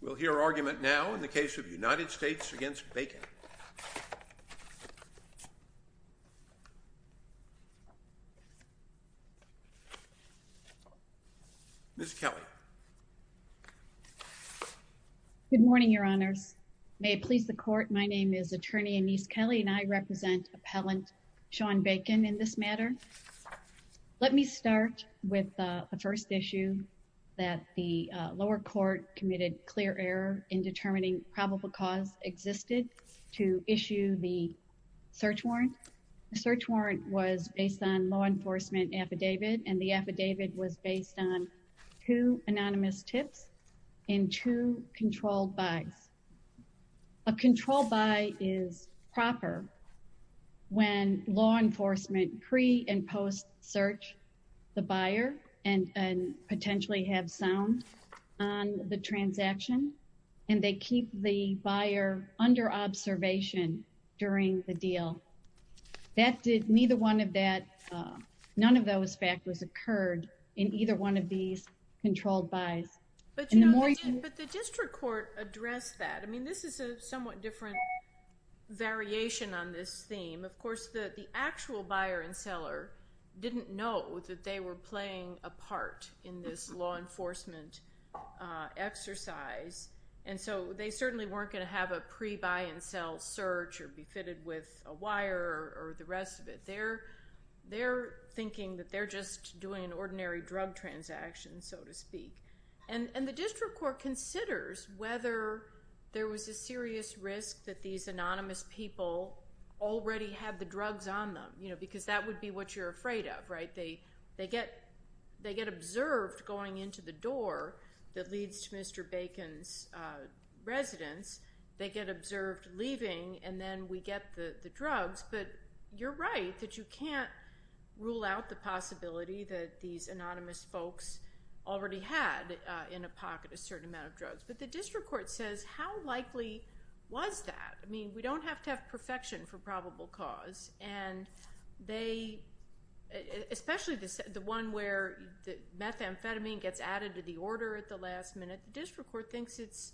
We'll hear argument now in the case of United States v. Bacon. Ms. Kelly. Good morning, Your Honors. May it please the Court, my name is Attorney Anise Kelly and I represent Appellant Shawn Bacon in this matter. Let me start with the first issue that the lower court committed clear error in determining probable cause existed to issue the search warrant. The search warrant was based on law enforcement affidavit and the affidavit was based on two anonymous tips and two controlled buys. A controlled buy is proper when law enforcement does not know the buyer and potentially have sound on the transaction and they keep the buyer under observation during the deal. That did neither one of that, none of those factors occurred in either one of these controlled buys. But the district court addressed that. I mean this is a somewhat different variation on this theme. Of course the the actual buyer and seller are playing a part in this law enforcement exercise and so they certainly weren't going to have a pre-buy and sell search or be fitted with a wire or the rest of it. They're thinking that they're just doing an ordinary drug transaction, so to speak. And the district court considers whether there was a serious risk that these anonymous people already had the drugs on them, you know, because that would be what you're afraid of, right? They get observed going into the door that leads to Mr. Bacon's residence. They get observed leaving and then we get the the drugs. But you're right that you can't rule out the possibility that these anonymous folks already had in a pocket a certain amount of drugs. But the district court says how likely was that? I mean we don't have to have perfection for probable cause and they, especially the one where the methamphetamine gets added to the order at the last minute, the district court thinks it's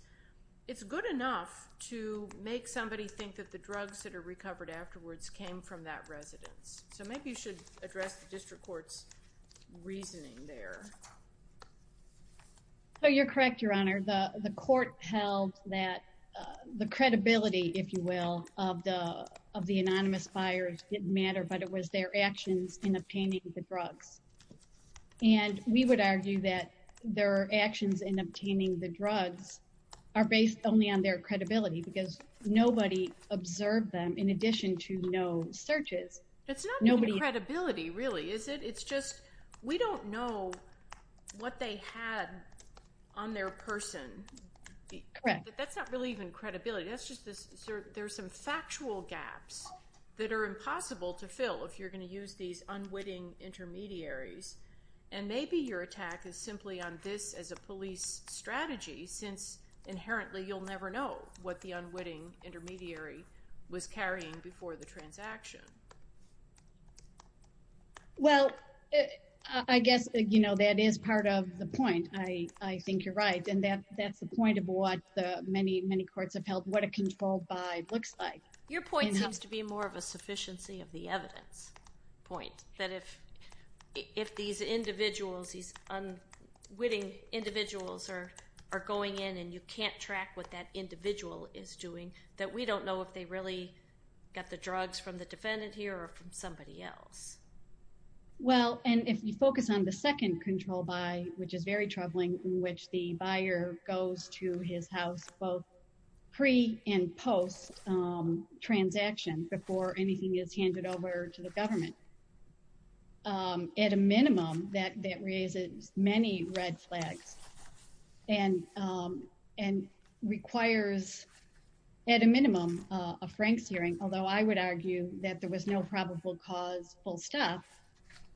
it's good enough to make somebody think that the drugs that are recovered afterwards came from that residence. So maybe you should address the district court's reasoning there. You're correct, Your Honor. The court held that the credibility, if you will, of the anonymous buyers didn't matter but it was their actions in obtaining the drugs. And we would argue that their actions in obtaining the drugs are based only on their credibility because nobody observed them in addition to no searches. That's not credibility really, is it? It's just we don't know what they had on their person. That's not really even credibility. That's just there's some factual gaps that are impossible to fill if you're going to use these unwitting intermediaries. And maybe your attack is simply on this as a police strategy since inherently you'll never know what the unwitting intermediary was carrying before the transaction. Well I guess you know that is part of the point. I think you're right and that that's the point of what the many many courts have held what a controlled buy looks like. Your point seems to be more of a sufficiency of the evidence point. That if these individuals, these unwitting individuals are going in and you can't track what that individual is doing that we don't know if they really got the drugs from the defendant here or from somebody else. Well and if you focus on the second control buy which is very troubling in both pre and post transaction before anything is handed over to the government. At a minimum that that raises many red flags and and requires at a minimum a Frank's hearing. Although I would argue that there was no probable cause full stop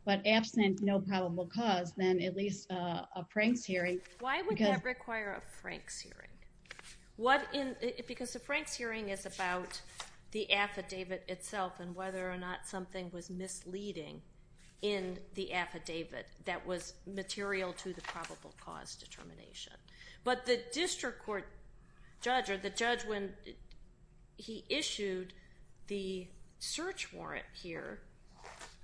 but absent no probable cause then at least a Frank's hearing. Why would that require a Frank's hearing? What in because the Frank's hearing is about the affidavit itself and whether or not something was misleading in the affidavit that was material to the probable cause determination. But the district court judge or the judge when he issued the search warrant here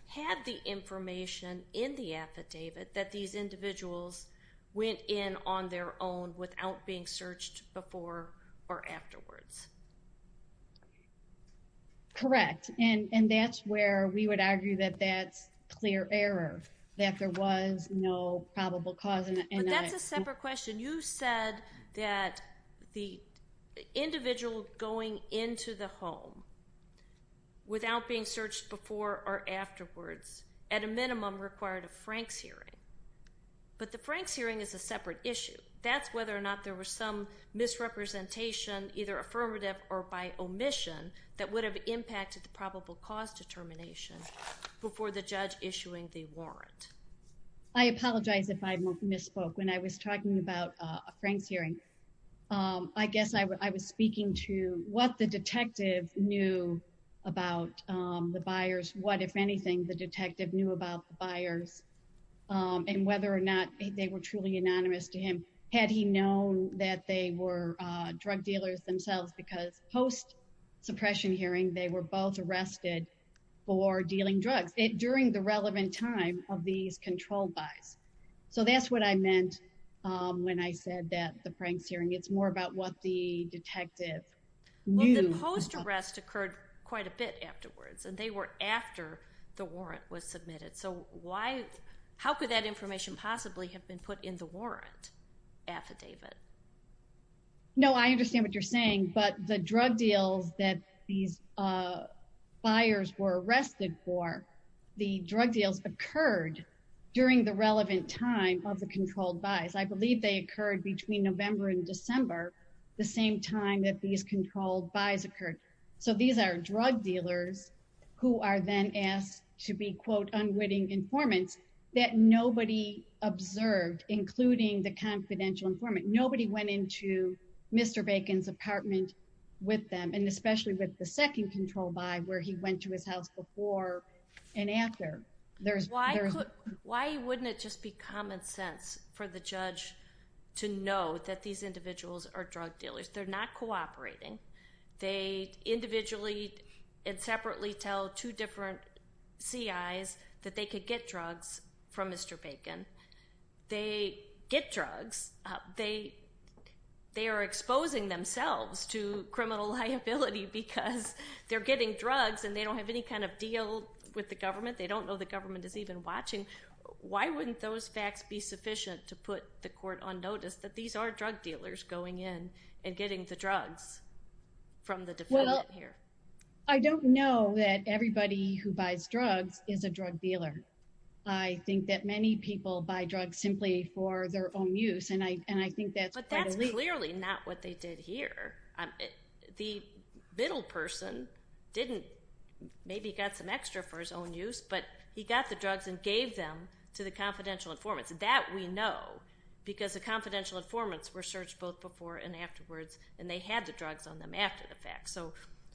had the information in the affidavit that these individuals went in on their own without being searched before or afterwards. Correct and and that's where we would argue that that's clear error that there was no probable cause. That's a separate question you said that the individual going into the home without being searched before or afterwards at a minimum required a Frank's hearing. But the Frank's hearing is a separate issue that's whether or not there was some misrepresentation either affirmative or by omission that would have impacted the probable cause determination before the judge issuing the warrant. I apologize if I misspoke when I was talking about a Frank's I was speaking to what the detective knew about the buyers. What if anything the detective knew about the buyers um and whether or not they were truly anonymous to him. Had he known that they were drug dealers themselves because post suppression hearing they were both arrested for dealing drugs during the relevant time of these controlled buys. So that's what I meant um when I said that the Frank's hearing it's more about what the detective knew. Post arrest occurred quite a bit afterwards and they were after the warrant was submitted. So why how could that information possibly have been put in the warrant affidavit? No, I understand what you're saying. But the drug deals that these uh buyers were arrested for the drug deals occurred during the relevant time of controlled buys. I believe they occurred between november and december the same time that these controlled buys occurred. So these are drug dealers who are then asked to be quote unwitting informants that nobody observed including the confidential informant. Nobody went into Mr Bacon's apartment with them and especially with the second control by where he went to his house before and after there's why why wouldn't it just be common sense for the judge to know that these individuals are drug dealers. They're not cooperating. They individually and separately tell two different C. I. S. That they could get drugs from Mr Bacon. They get drugs. They they are exposing themselves to criminal liability because they're getting drugs and they don't have any kind of deal with the government. They don't know the government is even watching. Why wouldn't those facts be sufficient to put the court on notice that these are drug dealers going in and getting the drugs from the department here? I don't know that everybody who buys drugs is a drug dealer. I think that many people buy drugs simply for their own use and I and I think that's clearly not what they did here. The middle person didn't maybe got some extra for his own use but he got the drugs and gave them to the confidential informants that we know because the confidential informants were searched both before and afterwards and they had the drugs on them after the fact. So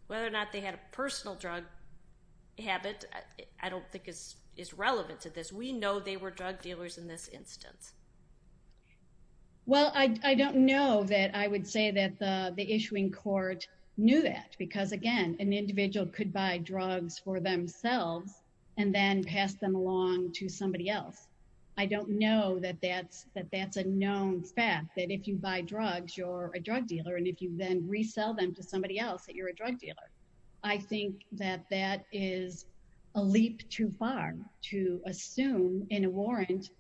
whether or not they had a personal drug habit I don't think is relevant to this. We know they were drug dealers in this instance. Well I don't know that I would say that the issuing court knew that because again an individual could buy drugs for themselves and then pass them along to somebody else. I don't know that that's that that's a known fact that if you buy drugs you're a drug dealer and if you then resell them to somebody else that you're a drug dealer. I think that that is a leap too far to assume in a warrant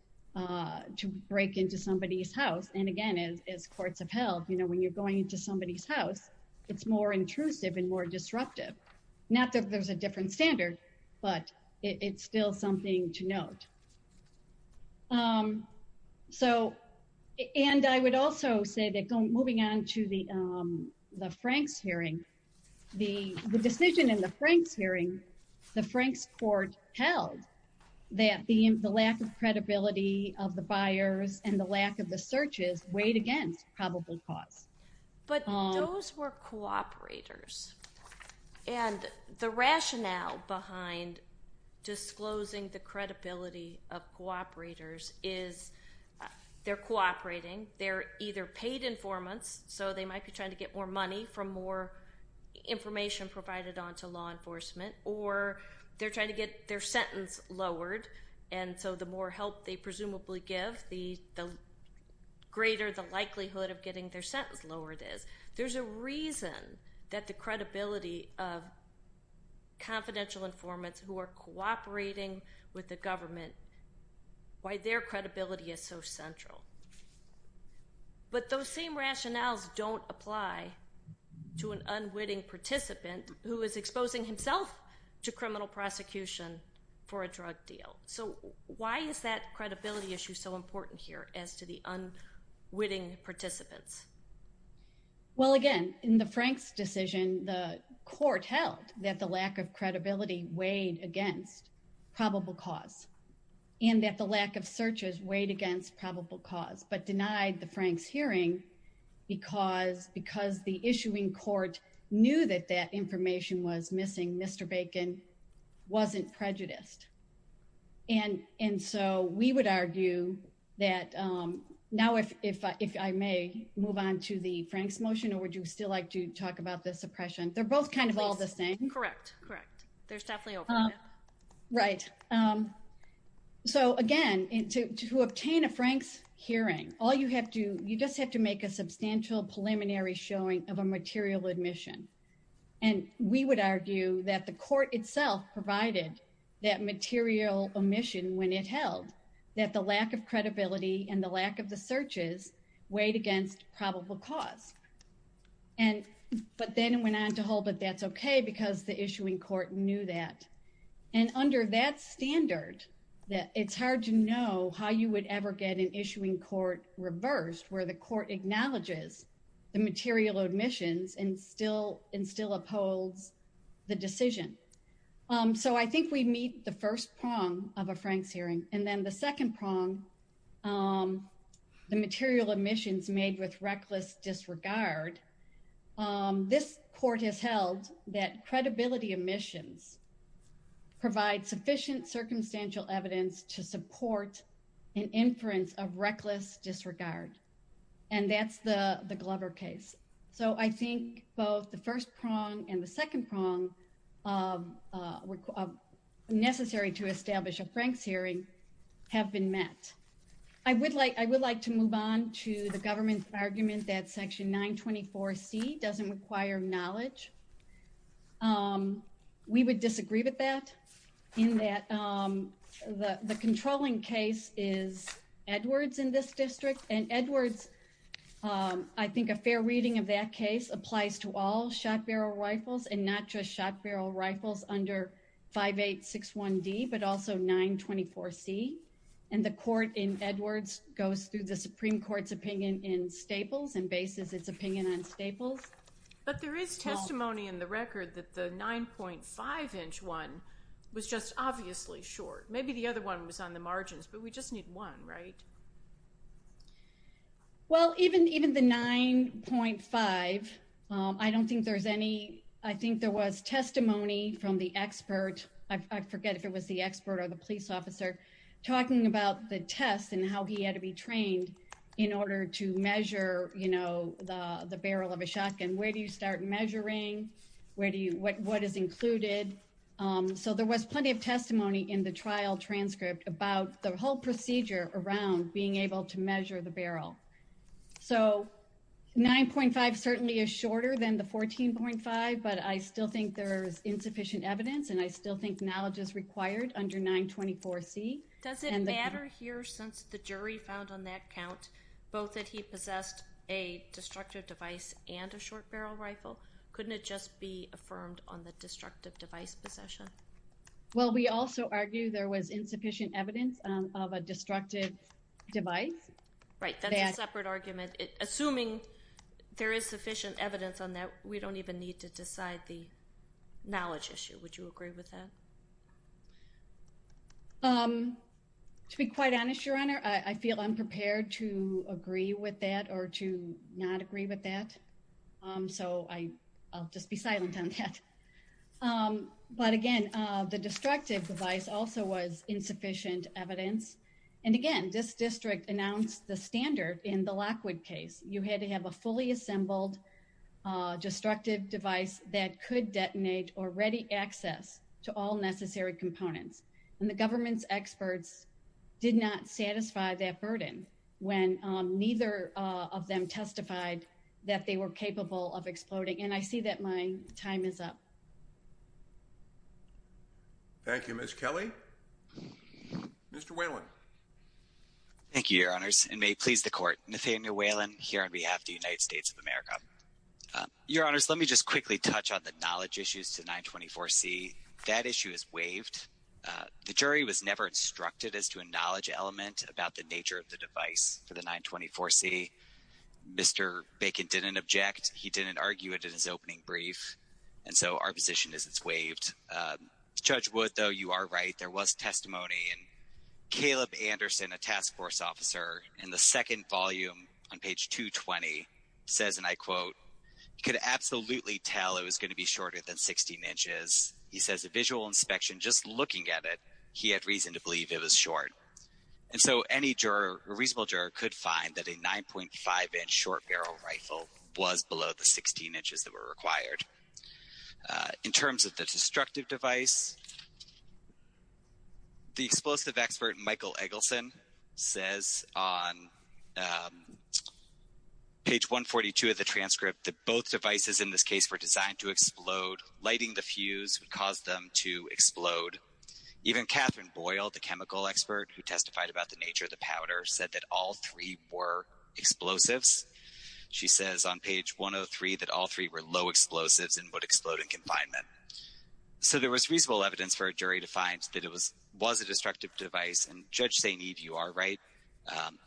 to break into somebody's house and again as courts of health you know when you're going into somebody's house it's more intrusive and more disruptive. Not that there's a different standard but it's still something to note. So and I would also say that going moving on to the the Franks hearing the decision in the Franks hearing the Franks court held that the lack of credibility of the searches weighed against probable cause. But those were cooperators and the rationale behind disclosing the credibility of cooperators is they're cooperating they're either paid informants so they might be trying to get more money from more information provided on to law enforcement or they're trying to get their sentence lowered and so the more help they greater the likelihood of getting their sentence lowered is. There's a reason that the credibility of confidential informants who are cooperating with the government why their credibility is so central. But those same rationales don't apply to an unwitting participant who is exposing himself to criminal prosecution for a drug deal. So why is that credibility issue so important here as to the unwitting participants? Well again in the Franks decision the court held that the lack of credibility weighed against probable cause and that the lack of searches weighed against probable cause but denied the Franks hearing because because the issuing court knew that that information was Now if I may move on to the Franks motion or would you still like to talk about the suppression? They're both kind of all the same? Correct, correct, there's definitely overlap. Right, so again to obtain a Franks hearing all you have to you just have to make a substantial preliminary showing of a material admission and we would argue that the court itself provided that material omission when it held that the lack of credibility and the lack of the searches weighed against probable cause and but then went on to hold that that's okay because the issuing court knew that and under that standard that it's hard to know how you would ever get an issuing court reversed where the court acknowledges the material omissions and still and still upholds the decision. So I think we meet the first prong of a Franks hearing and then the second prong the material omissions made with reckless disregard. This court has held that credibility omissions provide sufficient circumstantial evidence to support an inference of reckless disregard and that's the the Glover case. So I think both the first prong and the second prong necessary to establish a Franks hearing have been met. I would like I would like to move on to the government argument that section 924 C doesn't require knowledge. We would disagree with that in that the the controlling case is Edwards in this reading of that case applies to all shot barrel rifles and not just shot barrel rifles under 5861 D but also 924 C and the court in Edwards goes through the Supreme Court's opinion in Staples and bases its opinion on Staples. But there is testimony in the record that the 9.5 inch one was just obviously short maybe the other one was on the margins but we just need one right? Well even even the 9.5 I don't think there's any I think there was testimony from the expert I forget if it was the expert or the police officer talking about the test and how he had to be trained in order to measure you know the the barrel of a shotgun. Where do you start measuring? Where do you what what is included? So there was plenty of testimony in the trial transcript about the whole 9.5 certainly is shorter than the 14.5 but I still think there is insufficient evidence and I still think knowledge is required under 924 C. Does it matter here since the jury found on that count both that he possessed a destructive device and a short barrel rifle? Couldn't it just be affirmed on the destructive device possession? Well we also argue there was insufficient evidence of a Right, that's a separate argument. Assuming there is sufficient evidence on that we don't even need to decide the knowledge issue. Would you agree with that? To be quite honest your honor I feel unprepared to agree with that or to not agree with that so I'll just be silent on that. But again the destructive device also was insufficient evidence and again this district announced the standard in the Lockwood case. You had to have a fully assembled destructive device that could detonate or ready access to all necessary components and the government's experts did not satisfy that burden when neither of them testified that they were capable of exploding and I see that my time is up. Thank you Miss Kelly. Mr. Whalen. Thank you your honors and may it please the court. Nathaniel Whalen here on behalf the United States of America. Your honors let me just quickly touch on the knowledge issues to 924 C. That issue is waived. The jury was never instructed as to a knowledge element about the nature of the device for the 924 C. Mr. Bacon didn't object. He didn't argue it in his opening brief and so our position is it's waived. Judge Wood though you are right there was testimony and Caleb Anderson a task force officer in the second volume on page 220 says and I quote could absolutely tell it was going to be shorter than 16 inches. He says a visual inspection just looking at it he had reason to believe it was short and so any juror a reasonable juror could find that a 9.5 inch short barrel rifle was below the 16 inches that were required. In terms of the destructive device the explosive expert Michael Eggleston says on page 142 of the transcript that both devices in this case were designed to explode. Lighting the fuse would cause them to explode. Even Catherine Boyle the chemical expert who testified about the nature of the powder said that all three were explosives. She says on page 103 that all three were low explosives and would explode in confinement. So there was reasonable evidence for a jury to find that it was was a destructive device and Judge St. Eve you are right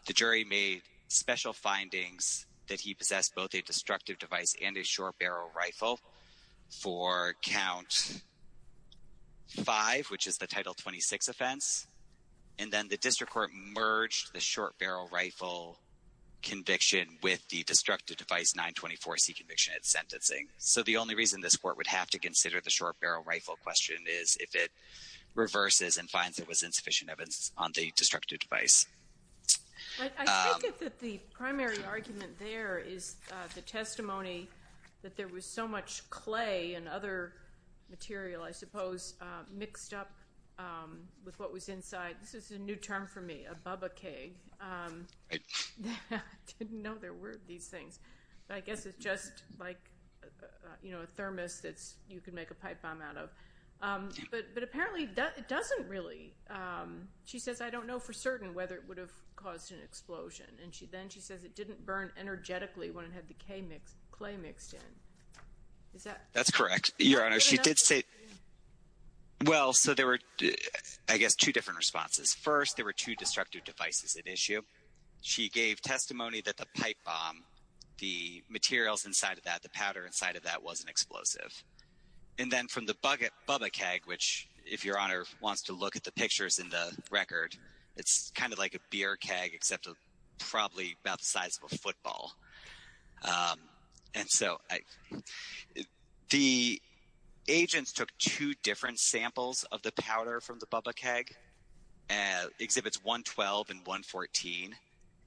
the jury made special findings that he possessed both a destructive device and a short barrel rifle for count five which is the title 26 offense and then the district court merged the short barrel rifle conviction with the destructive device 924 C conviction at sentencing. So the only reason this court would have to consider the short barrel rifle question is if it reverses and finds it was insufficient evidence on the destructive device. I think that the primary argument there is the testimony that there was so much clay and other material I suppose mixed up with what was inside this is a new term for me a bubba keg. I didn't know there were these things I guess it's just like you know a thermos that's you can make a pipe bomb out of but apparently that it doesn't really she says I don't know for certain whether it would have caused an explosion and she then she says it didn't burn energetically when it had the K mix clay mixed in. That's correct your honor she did say well so there were I guess two different responses first there were two destructive devices at issue she gave testimony that the pipe bomb the materials inside of that the powder inside of that wasn't explosive and then from the bucket bubba keg which if your honor wants to look at the pictures in the record it's kind of like a beer keg except probably about the size of a agents took two different samples of the powder from the bubba keg exhibits 112 and 114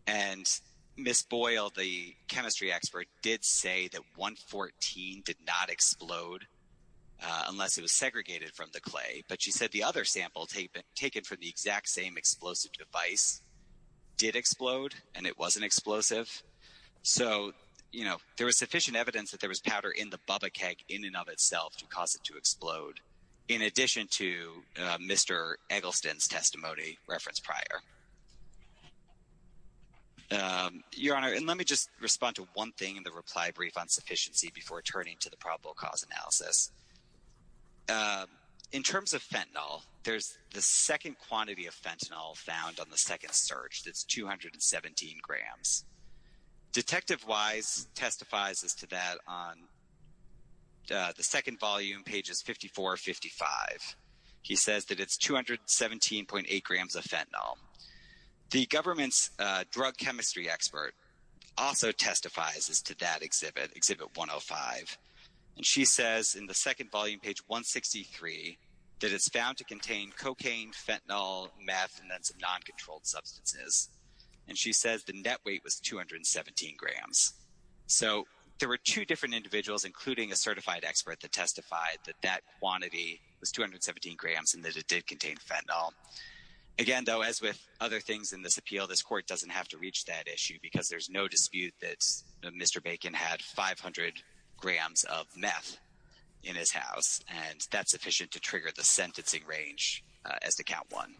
and Miss Boyle the chemistry expert did say that 114 did not explode unless it was segregated from the clay but she said the other sample taken from the exact same explosive device did explode and it wasn't explosive so you know there was sufficient evidence that there was powder in the bubba keg in and of itself to cause it to explode in addition to mr. Eggleston's testimony reference prior your honor and let me just respond to one thing in the reply brief on sufficiency before turning to the probable cause analysis in terms of fentanyl there's the second quantity of fentanyl found on the second search that's 217 grams detective wise testifies as to that on the second volume pages 5455 he says that it's 217.8 grams of fentanyl the government's drug chemistry expert also testifies as to that exhibit exhibit 105 and she says in the second volume page 163 that it's found to contain cocaine fentanyl meth non-controlled substances and she says the net weight was 217 grams so there were two different individuals including a certified expert that testified that that quantity was 217 grams and that it did contain fentanyl again though as with other things in this appeal this court doesn't have to reach that issue because there's no dispute that mr. Bacon had 500 grams of meth in his house and that's sufficient to trigger the sentencing range as to count one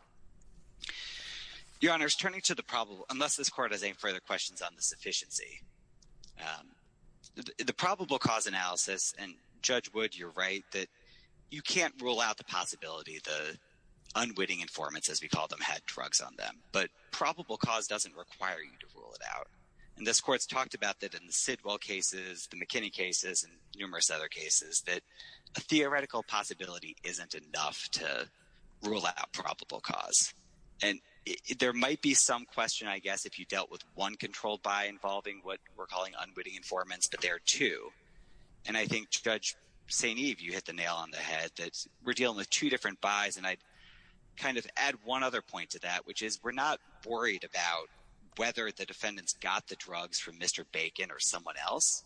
your honors turning to the problem unless this court has any further questions on the sufficiency the probable cause analysis and judge would you write that you can't rule out the possibility the unwitting informants as we call them had drugs on them but probable cause doesn't require you to rule it out and this court's talked about that in the Sidwell cases the McKinney cases and numerous cases that a theoretical possibility isn't enough to rule out probable cause and there might be some question I guess if you dealt with one controlled by involving what we're calling unwitting informants but there are two and I think judge St. Eve you hit the nail on the head that we're dealing with two different buys and I kind of add one other point to that which is we're not worried about whether the defendants got the drugs from mr. Bacon or someone else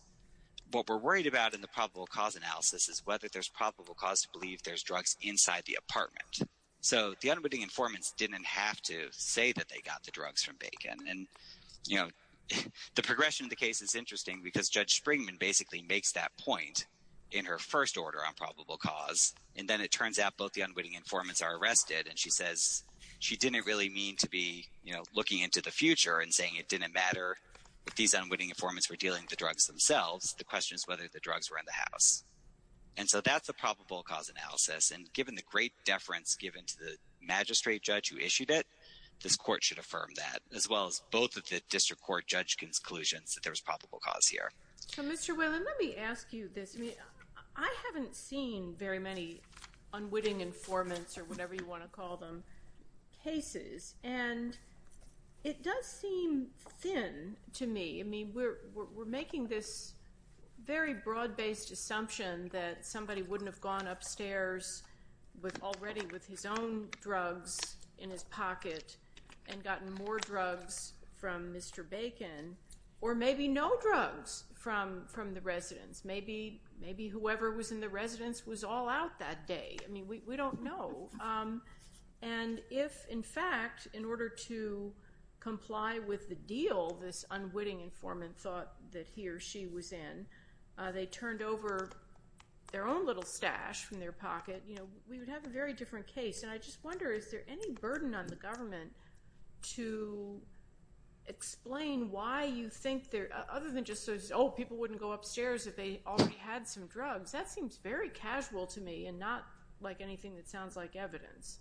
what we're worried about in the probable cause analysis is whether there's probable cause to believe there's drugs inside the apartment so the unwitting informants didn't have to say that they got the drugs from bacon and you know the progression of the case is interesting because judge Springman basically makes that point in her first order on probable cause and then it turns out both the unwitting informants are arrested and she says she didn't really mean to be you know looking into the future and saying it didn't matter if these unwitting informants were dealing the drugs themselves the question is whether the drugs were in the house and so that's the probable cause analysis and given the great deference given to the magistrate judge who issued it this court should affirm that as well as both of the district court judge conclusions that there was probable cause here I haven't seen very many unwitting informants or whatever you want to call them cases and it does seem thin to me I mean we're making this very broad-based assumption that somebody wouldn't have gone upstairs with already with his own drugs in his pocket and gotten more drugs from mr. Bacon or maybe no drugs from from the residence maybe maybe whoever was in the residence was all out that day I mean we with the deal this unwitting informant thought that he or she was in they turned over their own little stash from their pocket you know we would have a very different case and I just wonder is there any burden on the government to explain why you think there other than just oh people wouldn't go upstairs if they already had some drugs that seems very casual to me and not like anything like evidence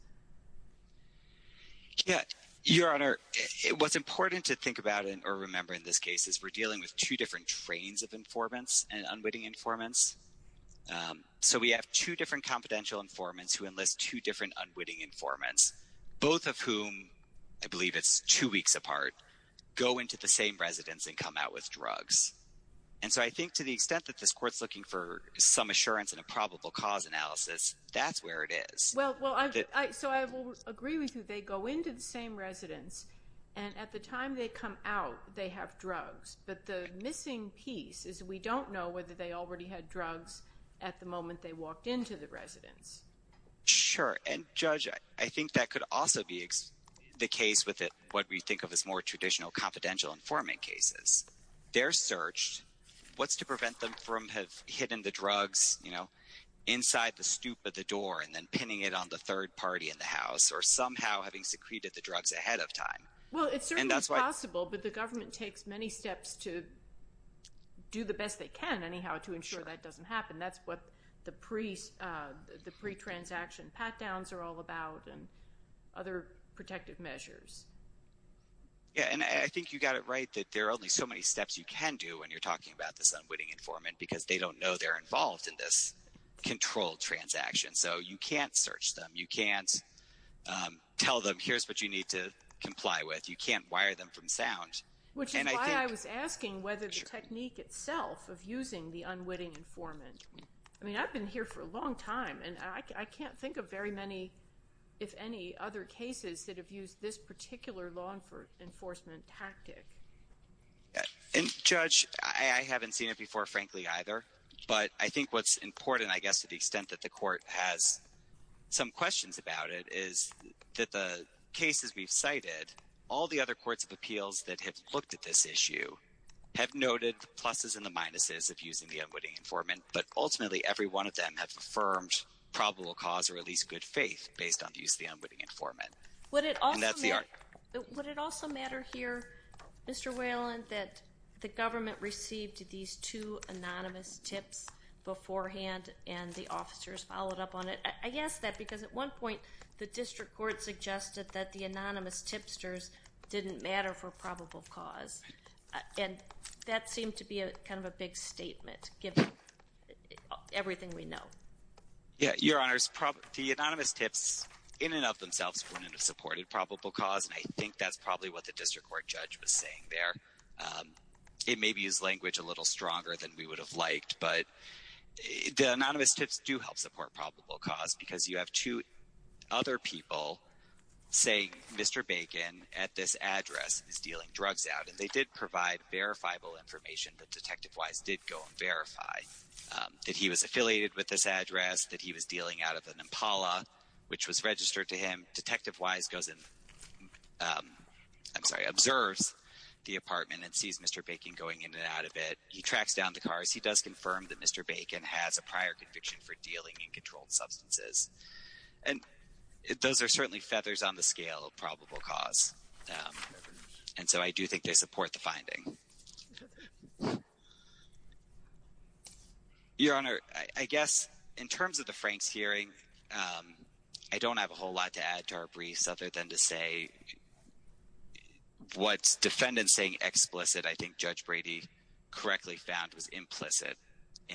yeah your honor it was important to think about it or remember in this case is we're dealing with two different trains of informants and unwitting informants so we have two different confidential informants who enlist two different unwitting informants both of whom I believe it's two weeks apart go into the same residence and come out with drugs and so I think to the extent that this courts looking for some assurance and a well I did I so I will agree with you they go into the same residence and at the time they come out they have drugs but the missing piece is we don't know whether they already had drugs at the moment they walked into the residence sure and judge I think that could also be the case with it what we think of as more traditional confidential informant cases they're searched what's to prevent them from have hidden the drugs you know inside the stoop of the door and then pinning it on the third party in the house or somehow having secreted the drugs ahead of time well it's possible but the government takes many steps to do the best they can anyhow to ensure that doesn't happen that's what the priest the pre-transaction pat-downs are all about and other protective measures yeah and I think you got it right that there are only so many steps you can do when you're talking about this unwitting informant because they don't know they're transaction so you can't search them you can't tell them here's what you need to comply with you can't wire them from sound which is why I was asking whether the technique itself of using the unwitting informant I mean I've been here for a long time and I can't think of very many if any other cases that have used this particular law enforcement tactic and judge I haven't seen it before frankly either but I think what's important I guess to the court has some questions about it is that the cases we've cited all the other courts of appeals that have looked at this issue have noted the pluses and the minuses of using the unwitting informant but ultimately every one of them have affirmed probable cause or at least good faith based on the use of the unwitting informant what it all that's the art but would it also matter here mr. Wayland that the government received these two anonymous tips beforehand and the officers followed up on it I guess that because at one point the district court suggested that the anonymous tipsters didn't matter for probable cause and that seemed to be a kind of a big statement give everything we know yeah your honors probably anonymous tips in and of themselves wouldn't have supported probable cause and I think that's probably what the district court judge was saying there it may be his language a little stronger than we would have liked but the anonymous tips do help support probable cause because you have two other people say mr. Bacon at this address is dealing drugs out and they did provide verifiable information that detective wise did go and verify that he was affiliated with this address that he was dealing out of an Impala which was registered to him detective wise goes in I'm sorry observes the apartment and sees mr. Bacon going in and out of it he tracks down the cars he does confirm that mr. Bacon has a prior conviction for dealing in controlled substances and those are certainly feathers on the scale of probable cause and so I do think they support the finding your honor I guess in terms of the Franks hearing I don't have a whole lot to add to our briefs other than to say what's defendants saying explicit I think judge Brady correctly found was in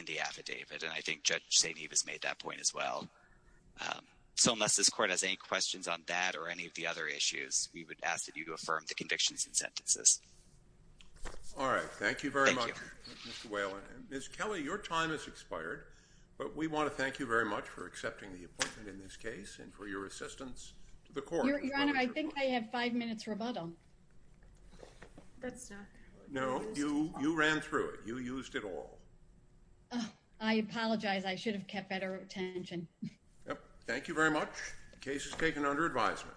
the affidavit and I think judge St. Eve has made that point as well so unless this court has any questions on that or any of the other issues we would ask that you to affirm the convictions and sentences all right thank you very much well miss Kelly your time has expired but we want to thank you very much for accepting the appointment in this case and for your assistance the I apologize I should have kept better attention thank you very much cases taken under advisement